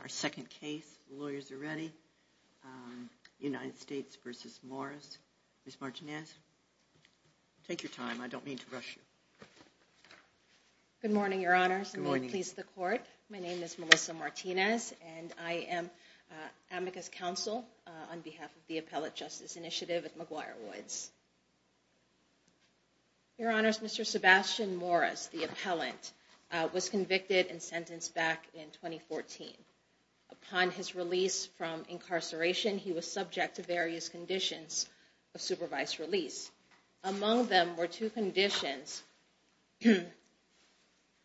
Our second case, lawyers are ready. United States versus Morris. Ms. Martinez, take your time. I don't mean to rush you. Good morning, Your Honors. May it please the court. My name is Melissa Martinez. And I am amicus counsel on behalf of the Appellate Justice Initiative at McGuire Woods. Your Honors, Mr. Sebastian Morris, the appellant, was convicted and sentenced back in 2014. Upon his release from incarceration, he was subject to various conditions of supervised release. Among them were two conditions,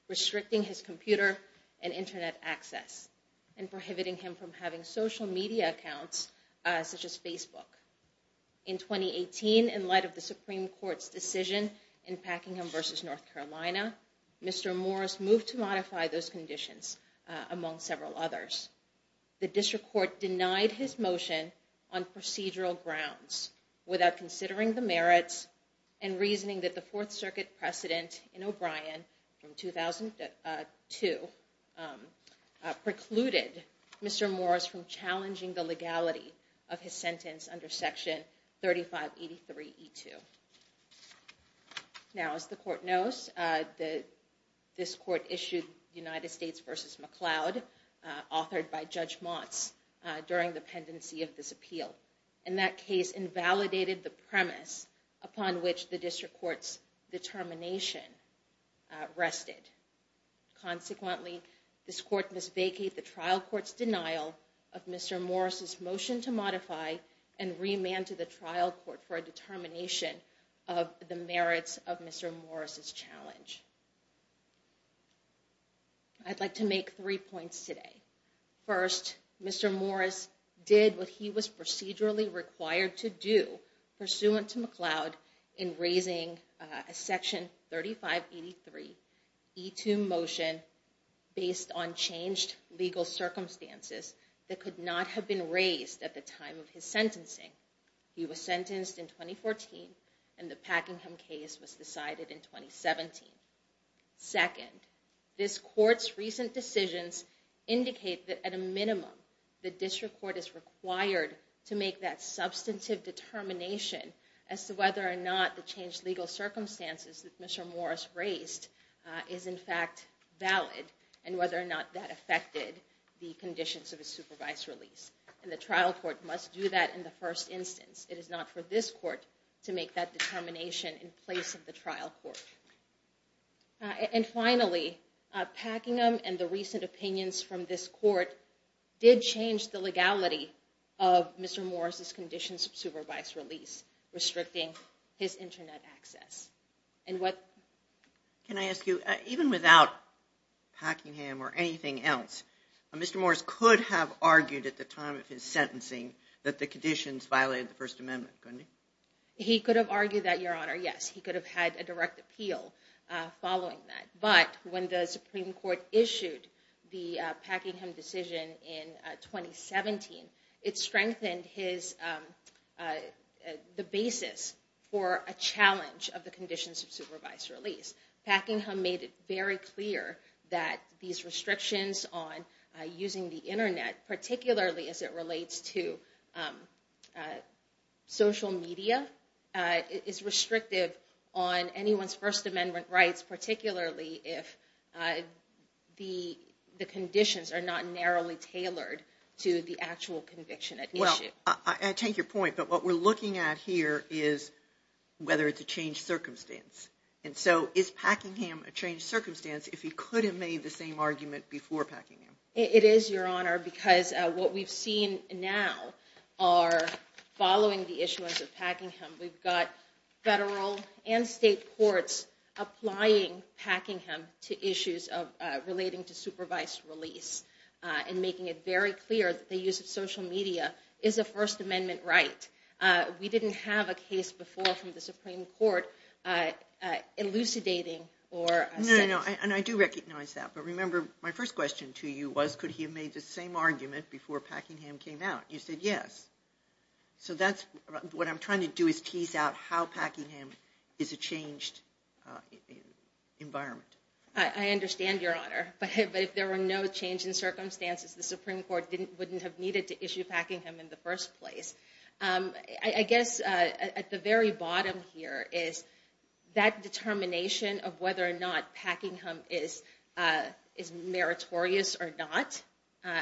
restricting his computer and internet access, and prohibiting him from having social media accounts, such as Facebook. In 2018, in light of the Supreme Court's decision in Packingham versus North Carolina, Mr. Morris moved to modify those conditions, among several others. The district court denied his motion on procedural grounds without considering the merits and reasoning that the Fourth Circuit precedent in O'Brien from 2002 precluded Mr. Morris from challenging the legality of his sentence under Section 3583E2. Now, as the court knows, this court issued United States versus McCloud, authored by Judge Motz during the pendency of this appeal. And that case invalidated the premise upon which the district court's determination rested. Consequently, this court must vacate the trial court's denial of Mr. Morris's motion to modify and remand to the trial court for a determination of the merits of Mr. Morris's challenge. I'd like to make three points today. First, Mr. Morris did what he was procedurally required to do pursuant to McCloud in raising a Section 3583E2 motion based on changed legal circumstances that could not have been raised at the time of his sentencing. He was sentenced in 2014, and the Packingham case was decided in 2017. Second, this court's recent decisions indicate that at a minimum, the district court is required to make that substantive determination as to whether or not the changed legal circumstances that Mr. Morris raised is, in fact, valid and whether or not that affected the conditions of his supervised release. And the trial court must do that in the first instance. It is not for this court to make that determination in place of the trial court. And finally, Packingham and the recent opinions from this court did change the legality of Mr. Morris's conditions of supervised release, restricting his internet access. And what? Can I ask you, even without Packingham or anything else, Mr. Morris could have argued at the time of his sentencing that the conditions violated the First Amendment, couldn't he? He could have argued that, Your Honor, yes. He could have had a direct appeal following that. But when the Supreme Court issued the Packingham decision in 2017, it strengthened the basis for a challenge of the conditions of supervised release. Packingham made it very clear that these restrictions on using the internet, particularly as it relates to social media, is restrictive on anyone's First Amendment rights, particularly if the conditions are not narrowly tailored to the actual conviction at issue. Well, I take your point. But what we're looking at here is whether it's a changed circumstance. And so is Packingham a changed circumstance if he could have made the same argument before Packingham? It is, Your Honor, because what we've seen now are, following the issuance of Packingham, we've got federal and state courts applying Packingham to issues relating to supervised release and making it very clear that the use of social media is a First Amendment right. We didn't have a case before from the Supreme Court elucidating or saying. And I do recognize that. But remember, my first question to you was, could he have made the same argument before Packingham came out? You said yes. So what I'm trying to do is tease out how Packingham is a changed environment. I understand, Your Honor. But if there were no change in circumstances, the Supreme Court wouldn't have needed to issue Packingham in the first place. I guess at the very bottom here is that determination of whether or not Packingham is meritorious or not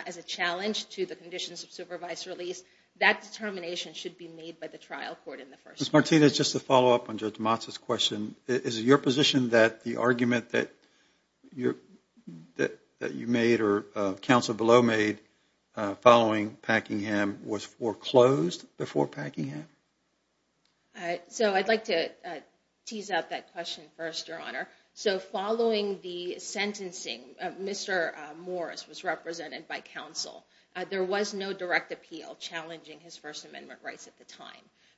as a challenge to the conditions of supervised release, that determination should be made by the trial court in the first place. Ms. Martinez, just to follow up on Judge Motza's question, is it your position that the argument that you made or counsel below made following Packingham was foreclosed before Packingham? So I'd like to tease out that question first, so following the sentencing, Mr. Morris was represented by counsel. There was no direct appeal challenging his First Amendment rights at the time.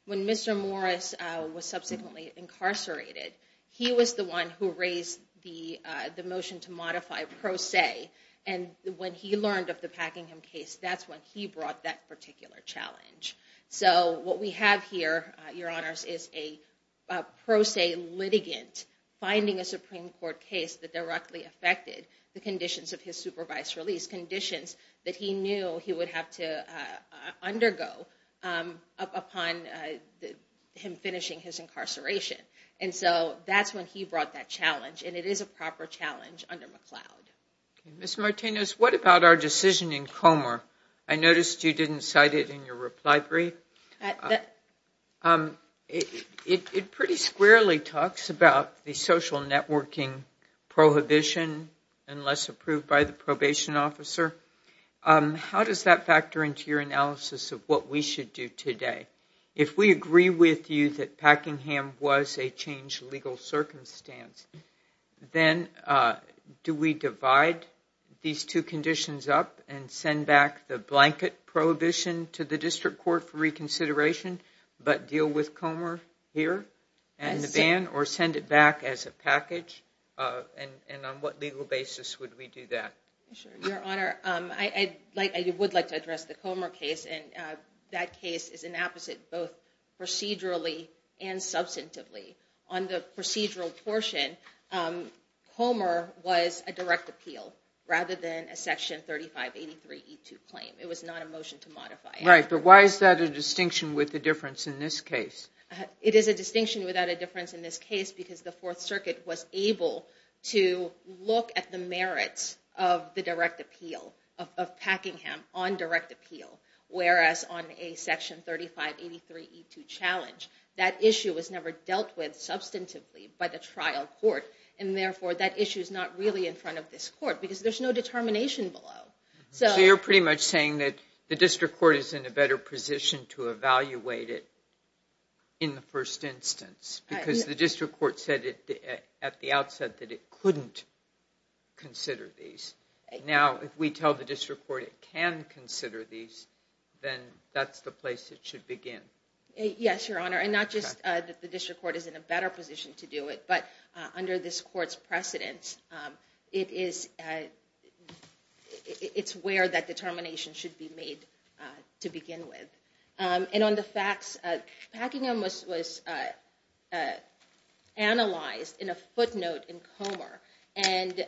When Mr. Morris was subsequently incarcerated, he was the one who raised the motion to modify pro se, and when he learned of the Packingham case, that's when he brought that particular challenge. So what we have here, Your Honors, is a pro se litigant finding a Supreme Court case that directly affected the conditions of his supervised release, conditions that he knew he would have to undergo upon him finishing his incarceration, and so that's when he brought that challenge, and it is a proper challenge under McLeod. Ms. Martinez, what about our decision in Comer? I noticed you didn't cite it in your reply brief. It pretty squarely talks about the social networking prohibition unless approved by the probation officer. How does that factor into your analysis of what we should do today? If we agree with you that Packingham was a changed legal circumstance, then do we divide these two conditions up and send back the blanket prohibition to the district court for reconsideration, but deal with Comer here and the ban, or send it back as a package, and on what legal basis would we do that? Sure, Your Honor, I would like to address the Comer case, and that case is an opposite, both procedurally and substantively. On the procedural portion, Comer was a direct appeal rather than a Section 3583E2 claim. It was not a motion to modify it. Right, but why is that a distinction with the difference in this case? It is a distinction without a difference in this case because the Fourth Circuit was able to look at the merits of the direct appeal of Packingham on direct appeal, whereas on a Section 3583E2 challenge, that issue was never dealt with substantively by the trial court, and therefore that issue is not really in front of this court because there's no determination below. So you're pretty much saying that the district court is in a better position to evaluate it in the first instance, because the district court said at the outset that it couldn't consider these. Now, if we tell the district court it can consider these, then that's the place it should begin. Yes, Your Honor, and not just that the district court is in a better position to do it, but under this court's precedence, it's where that determination should be made to begin with. And on the facts, Packingham was analyzed in a footnote in Comer, and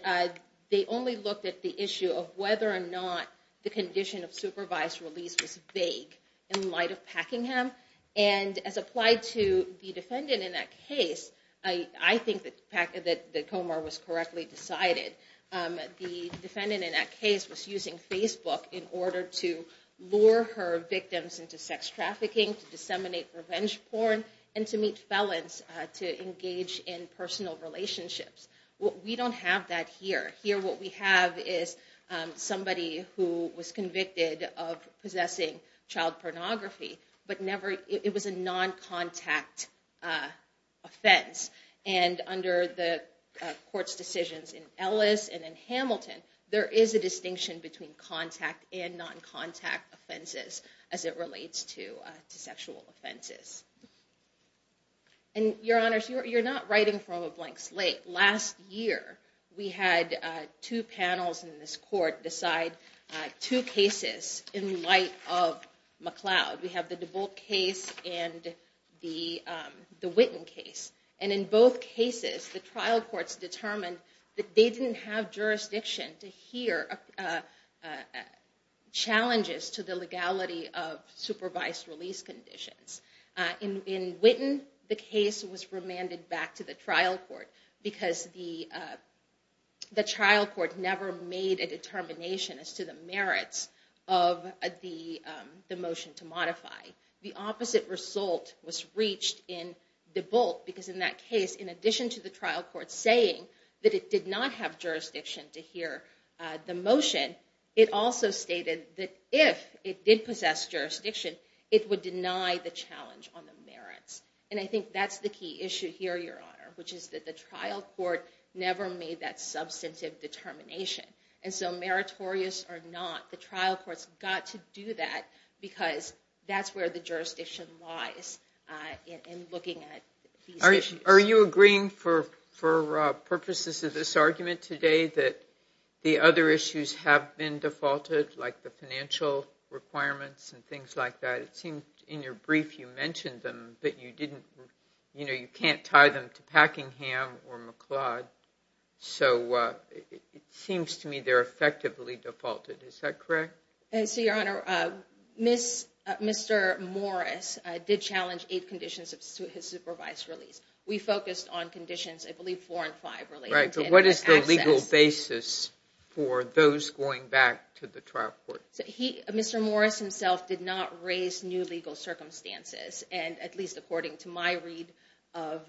they only looked at the issue of whether or not the condition of supervised release was vague in light of Packingham, and as applied to the defendant in that case, I think that Comer was correctly decided. The defendant in that case was using Facebook in order to lure her victims into sex trafficking, to disseminate revenge porn, and to meet felons to engage in personal relationships. Well, we don't have that here. Here what we have is somebody who was convicted of possessing child pornography, but it was a non-contact offense, and under the court's decisions in Ellis and in Hamilton, there is a distinction between contact and non-contact offenses as it relates to sexual offenses. And Your Honors, you're not writing from a blank slate. Last year, we had two panels in this court decide two cases in light of McLeod. We have the DeBolt case and the Whitten case, and in both cases, the trial courts determined that they didn't have jurisdiction to hear challenges to the legality of supervised release conditions. In Whitten, the case was remanded back to the trial court because the trial court never made a determination as to the merits of the motion to modify. The opposite result was reached in DeBolt because in that case, in addition to the trial court saying that it did not have jurisdiction to hear the motion, it also stated that if it did possess jurisdiction, it would deny the challenge on the merits. And I think that's the key issue here, Your Honor, which is that the trial court never made that substantive determination. And so meritorious or not, the trial courts got to do that because that's where the jurisdiction lies in looking at these issues. Are you agreeing for purposes of this argument today that the other issues have been defaulted, like the financial requirements and things like that? It seems in your brief, you mentioned them, but you can't tie them to Packingham or McLeod. So it seems to me they're effectively defaulted. Is that correct? And so, Your Honor, Mr. Morris did challenge eight conditions of his supervised release. We focused on conditions, I believe, four and five related to access. Right, so what is the legal basis for those going back to the trial court? Mr. Morris himself did not raise new legal circumstances, and at least according to my read of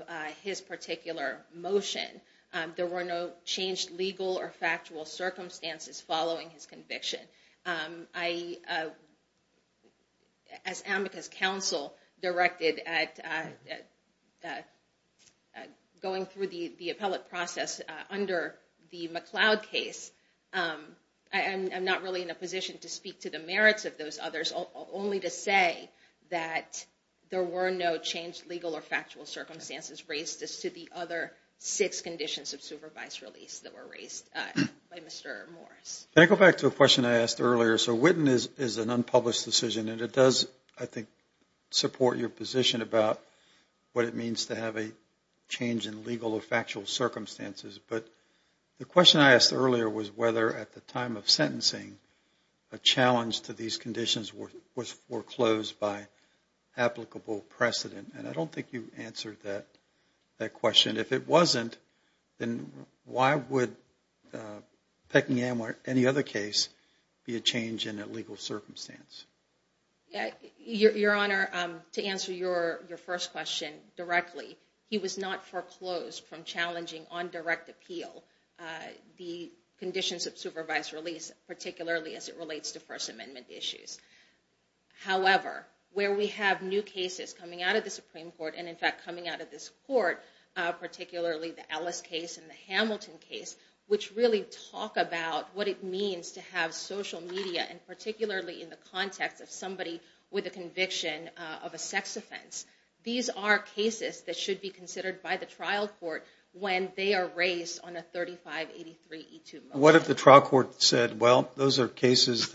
his particular motion, there were no changed legal or factual circumstances following his conviction. As AMCA's counsel directed at going through the appellate process under the McLeod case, I'm not really in a position to speak to the merits of those others, only to say that there were no changed legal or factual circumstances raised as to the other six conditions of supervised release that were raised by Mr. Morris. Can I go back to a question I asked earlier? So Whitten is an unpublished decision, and it does, I think, support your position about what it means to have a change in legal or factual circumstances, but the question I asked earlier was whether at the time of sentencing, a challenge to these conditions was foreclosed by applicable precedent. And I don't think you answered that question. If it wasn't, then why would Peckinham or any other case be a change in a legal circumstance? Yeah, Your Honor, to answer your first question directly, he was not foreclosed from challenging on direct appeal the conditions of supervised release, particularly as it relates to First Amendment issues. However, where we have new cases coming out of the Supreme Court, and in fact coming out of this court, particularly the Ellis case and the Hamilton case, which really talk about what it means to have social media, and particularly in the context of somebody with a conviction of a sex offense. These are cases that should be considered by the trial court when they are raised on a 3583E2 motion. What if the trial court said, well, those are cases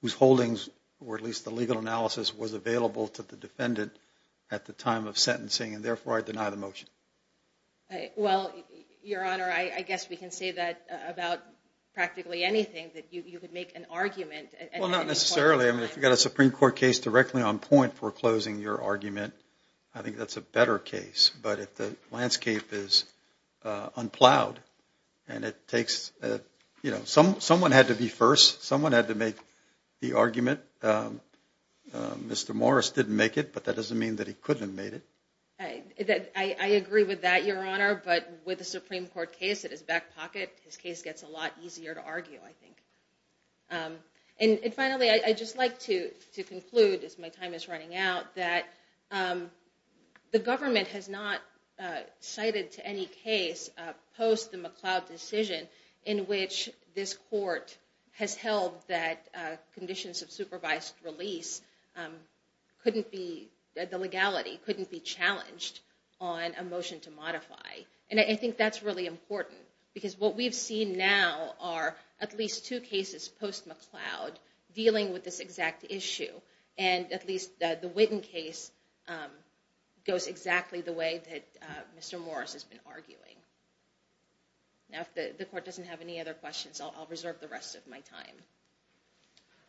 whose holdings, was available to the defendant at the time of sentencing, and therefore I deny the motion? Well, Your Honor, I guess we can say that about practically anything, that you could make an argument. Well, not necessarily. I mean, if you've got a Supreme Court case directly on point foreclosing your argument, I think that's a better case. But if the landscape is unplowed, and it takes, you know, someone had to be first, someone had to make the argument. Mr. Morris didn't make it, but that doesn't mean that he couldn't have made it. I agree with that, Your Honor, but with a Supreme Court case that is back pocket, his case gets a lot easier to argue, I think. And finally, I'd just like to conclude, as my time is running out, that the government has not cited to any case post the McLeod decision in which this court has held that conditions of supervised release couldn't be, the legality couldn't be challenged on a motion to modify. And I think that's really important, because what we've seen now are at least two cases post McLeod dealing with this exact issue, and at least the Witten case goes exactly the way that Mr. Morris has been arguing. Now, if the court doesn't have any other questions, I'll reserve the rest of my time.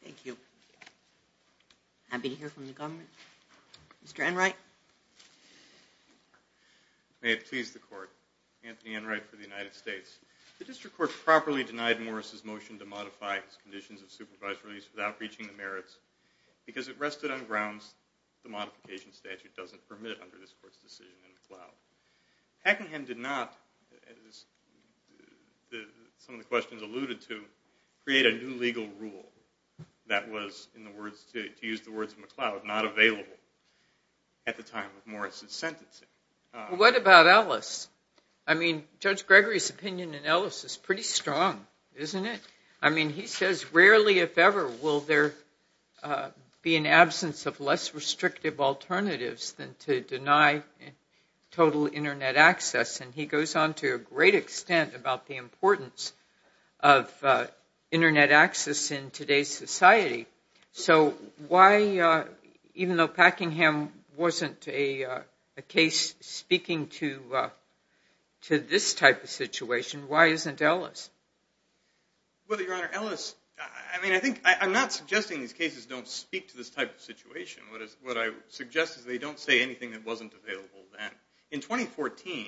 Thank you. Happy to hear from the government. Mr. Enright. May it please the court. Anthony Enright for the United States. The district court properly denied Morris's motion to modify his conditions of supervised release without reaching the merits, because it rested on grounds the modification statute doesn't permit under this court's decision in McLeod. Hackingham did not, as some of the questions alluded to, create a new legal rule that was, in the words, to use the words of McLeod, not available at the time of Morris's sentencing. What about Ellis? I mean, Judge Gregory's opinion in Ellis is pretty strong, isn't it? I mean, he says, rarely, if ever, will there be an absence of less restrictive alternatives than to deny total internet access, and he goes on to a great extent about the importance of internet access in today's society. So why, even though Packingham wasn't a case speaking to this type of situation, why isn't Ellis? Well, Your Honor, Ellis, I mean, I think, I'm not suggesting these cases don't speak to this type of situation. What I suggest is they don't say anything that wasn't available then. In 2014,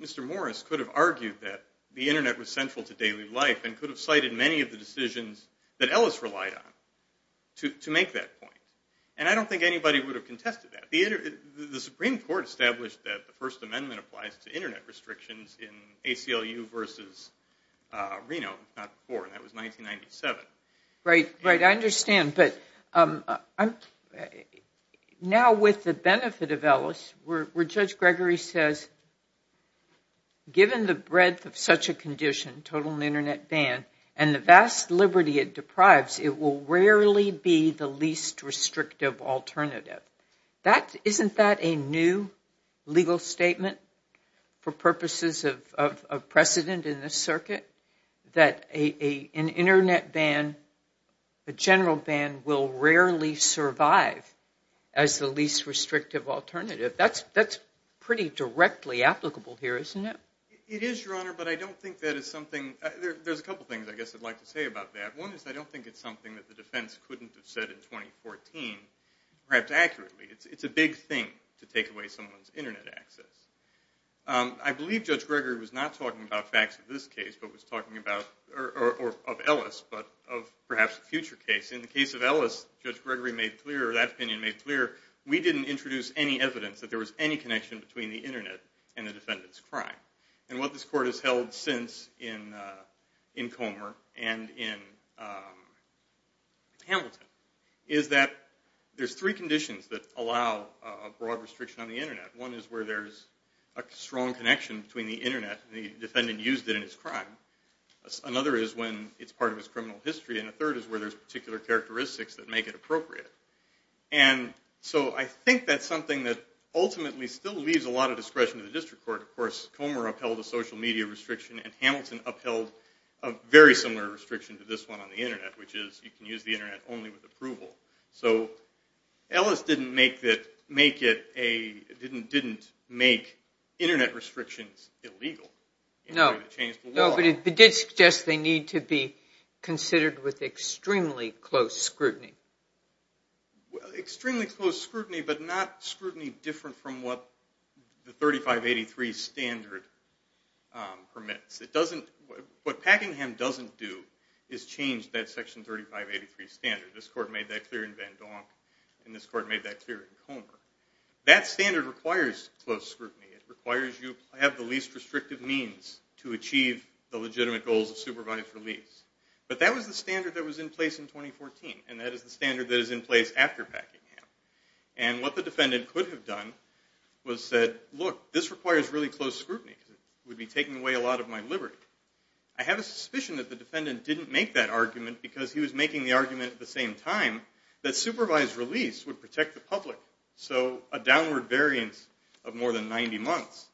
Mr. Morris could have argued that the internet was central to daily life and could have cited many of the decisions that Ellis relied on to make that point, and I don't think anybody would have contested that. The Supreme Court established that the First Amendment applies to internet restrictions in ACLU versus Reno, not before, and that was 1997. Right, right, I understand, but now with the benefit of Ellis, where Judge Gregory says, given the breadth of such a condition, total internet ban, and the vast liberty it deprives, it will rarely be the least restrictive alternative. That, isn't that a new legal statement for purposes of precedent in this circuit? That an internet ban, a general ban, will rarely survive as the least restrictive alternative. That's pretty directly applicable here, isn't it? It is, Your Honor, but I don't think that is something, there's a couple things I guess I'd like to say about that. One is I don't think it's something that the defense couldn't have said in 2014, perhaps accurately, it's a big thing to take away someone's internet access. I believe Judge Gregory was not talking about facts of this case, but was talking about, or of Ellis, but of perhaps a future case. In the case of Ellis, Judge Gregory made clear, or that opinion made clear, we didn't introduce any evidence that there was any connection between the internet and the defendant's crime. And what this court has held since in Comer and in Hamilton, is that there's three conditions that allow a broad restriction on the internet. One is where there's a strong connection between the internet and the defendant used it in his crime, another is when it's part of his criminal history, and a third is where there's particular characteristics that make it appropriate. And so I think that's something that ultimately still leaves a lot of discretion to the district court. Of course, Comer upheld a social media restriction, and Hamilton upheld a very similar restriction to this one on the internet, which is, you can use the internet only with approval. So, Ellis didn't make it a, didn't make internet restrictions illegal. In order to change the law. No, but it did suggest they need to be considered with extremely close scrutiny. Extremely close scrutiny, but not scrutiny different from what the 3583 standard permits. It doesn't, what Packingham doesn't do is change that section 3583 standard. This court made that clear in Van Donk, and this court made that clear in Comer. That standard requires close scrutiny. It requires you have the least restrictive means to achieve the legitimate goals of supervised release. But that was the standard that was in place in 2014, and that is the standard that is in place after Packingham. And what the defendant could have done was said, look, this requires really close scrutiny, because it would be taking away a lot of my liberty. I have a suspicion that the defendant didn't make that argument because he was making the argument at the same time that supervised release would protect the public. So, a downward variance of more than 90 months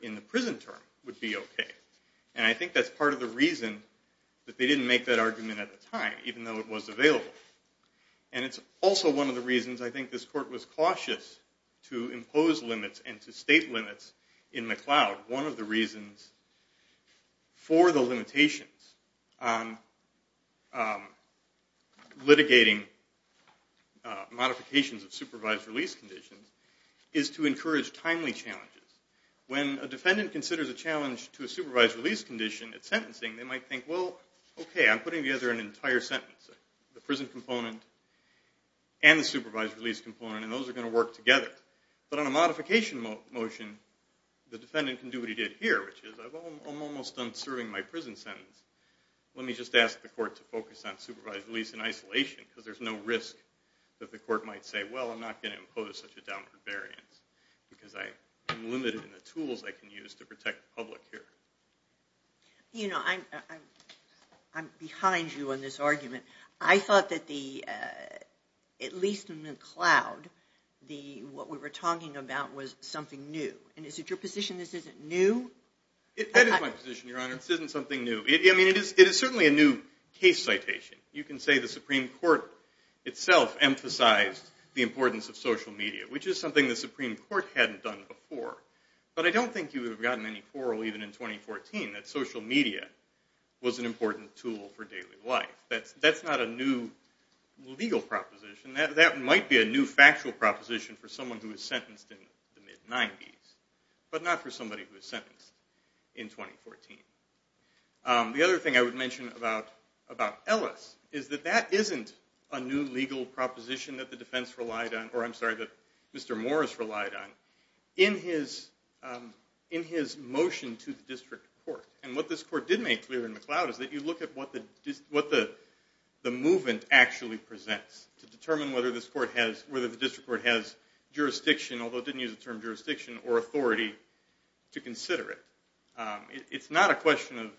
in the prison term would be okay. And I think that's part of the reason that they didn't make that argument at the time, even though it was available. And it's also one of the reasons, I think, this court was cautious to impose limits and to state limits in McLeod. One of the reasons for the limitations litigating modifications of supervised release conditions is to encourage timely challenges. When a defendant considers a challenge to a supervised release condition at sentencing, they might think, well, okay, I'm putting together an entire sentence. The prison component and the supervised release component, and those are gonna work together. But on a modification motion, the defendant can do what he did here, which is, I'm almost done serving my prison sentence. Let me just ask the court to focus on supervised release in isolation, because there's no risk that the court might say, well, I'm not gonna impose such a downward variance, because I'm limited in the tools I can use to protect the public here. You know, I'm behind you on this argument. I thought that the, at least in McLeod, the, what we were talking about was something new. And is it your position this isn't new? It is my position, Your Honor, this isn't something new. I mean, it is certainly a new case citation. You can say the Supreme Court itself emphasized the importance of social media, which is something the Supreme Court hadn't done before. But I don't think you would have gotten any quarrel even in 2014 that social media was an important tool for daily life. That's not a new legal proposition. That might be a new factual proposition for someone who was sentenced in the mid-90s, but not for somebody who was sentenced in 2014. The other thing I would mention about Ellis is that that isn't a new legal proposition that the defense relied on, or I'm sorry, that Mr. Morris relied on. In his motion to the district court, and what this court did make clear in McLeod is that you look at what the movement actually presents to determine whether this court has, whether the district court has jurisdiction, although it didn't use the term jurisdiction, or authority to consider it. It's not a question of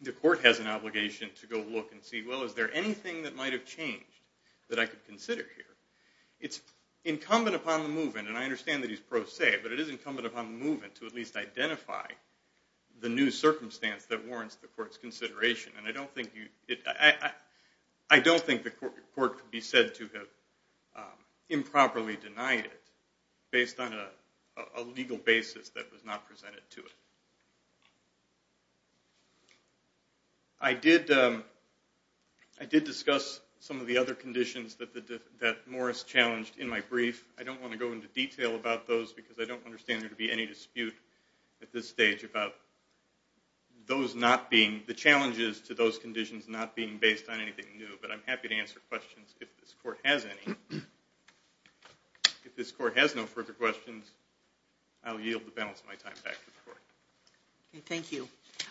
the court has an obligation to go look and see, well, is there anything that might have changed that I could consider here? It's incumbent upon the movement, and I understand that he's pro se, but it is incumbent upon the movement to at least identify the new circumstance that warrants the court's consideration. I don't think the court could be said to have improperly denied it based on a legal basis that was not presented to it. I did discuss some of the other conditions that Morris challenged in my brief. I don't want to go into detail about those because I don't understand there to be any dispute at this stage about those not being, the challenges to those conditions not being based on anything new, but I'm happy to answer questions if this court has any. If this court has no further questions, I'll yield the balance of my time back to the court. Okay, thank you.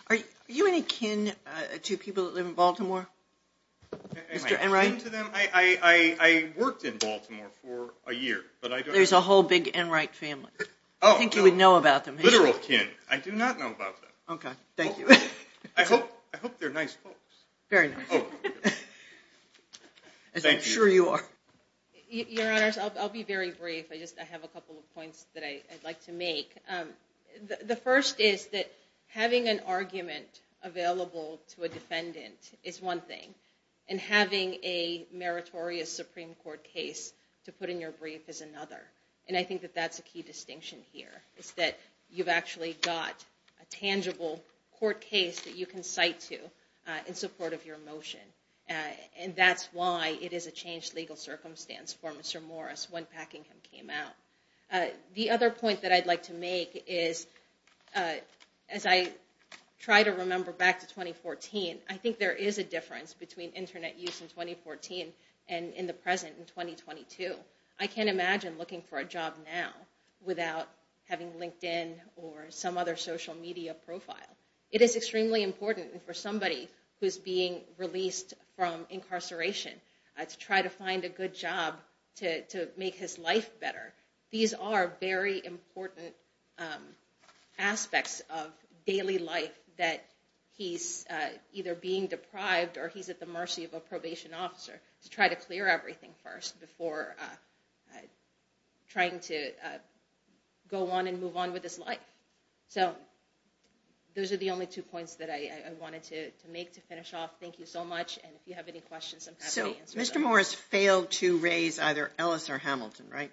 Are you any kin to people that live in Baltimore? Mr. Enright? I worked in Baltimore for a year, but I don't know. There's a whole big Enright family. Oh, oh. I think you would know about them. Literal kin, I do not know about them. Okay, thank you. I hope they're nice folks. Very nice. Thank you. As I'm sure you are. Your Honors, I'll be very brief. I just have a couple of points that I'd like to make. The first is that having an argument available to a defendant is one thing, and having a meritorious Supreme Court case to put in your brief is another. And I think that that's a key distinction here, is that you've actually got a tangible court case that you can cite to in support of your motion. And that's why it is a changed legal circumstance for Mr. Morris when Packingham came out. The other point that I'd like to make is, as I try to remember back to 2014, I think there is a difference between internet use in 2014 and in the present in 2022. I can't imagine looking for a job now without having LinkedIn or some other social media profile. It is extremely important for somebody who's being released from incarceration to try to find a good job to make his life better. These are very important aspects of daily life that he's either being deprived or he's at the mercy of a probation officer to try to clear everything first before trying to go on and move on with his life. So those are the only two points that I wanted to make to finish off. Thank you so much, and if you have any questions, I'm happy to answer them. So Mr. Morris failed to raise either Ellis or Hamilton, right?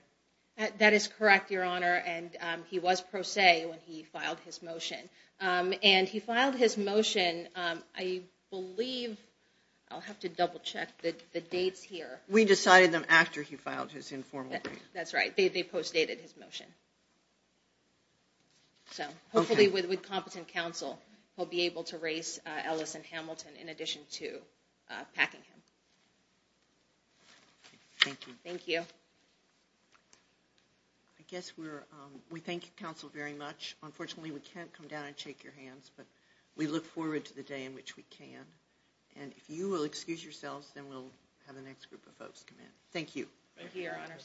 That is correct, Your Honor, and he was pro se when he filed his motion. And he filed his motion, I believe, I'll have to double check the dates here. We decided them after he filed his informal brief. That's right, they postdated his motion. So hopefully with competent counsel, he'll be able to raise Ellis and Hamilton in addition to packing him. Thank you. Thank you. I guess we thank counsel very much. Unfortunately, we can't come down and shake your hands, but we look forward to the day in which we can. And if you will excuse yourselves, then we'll have the next group of folks come in. Thank you. Thank you, Your Honor.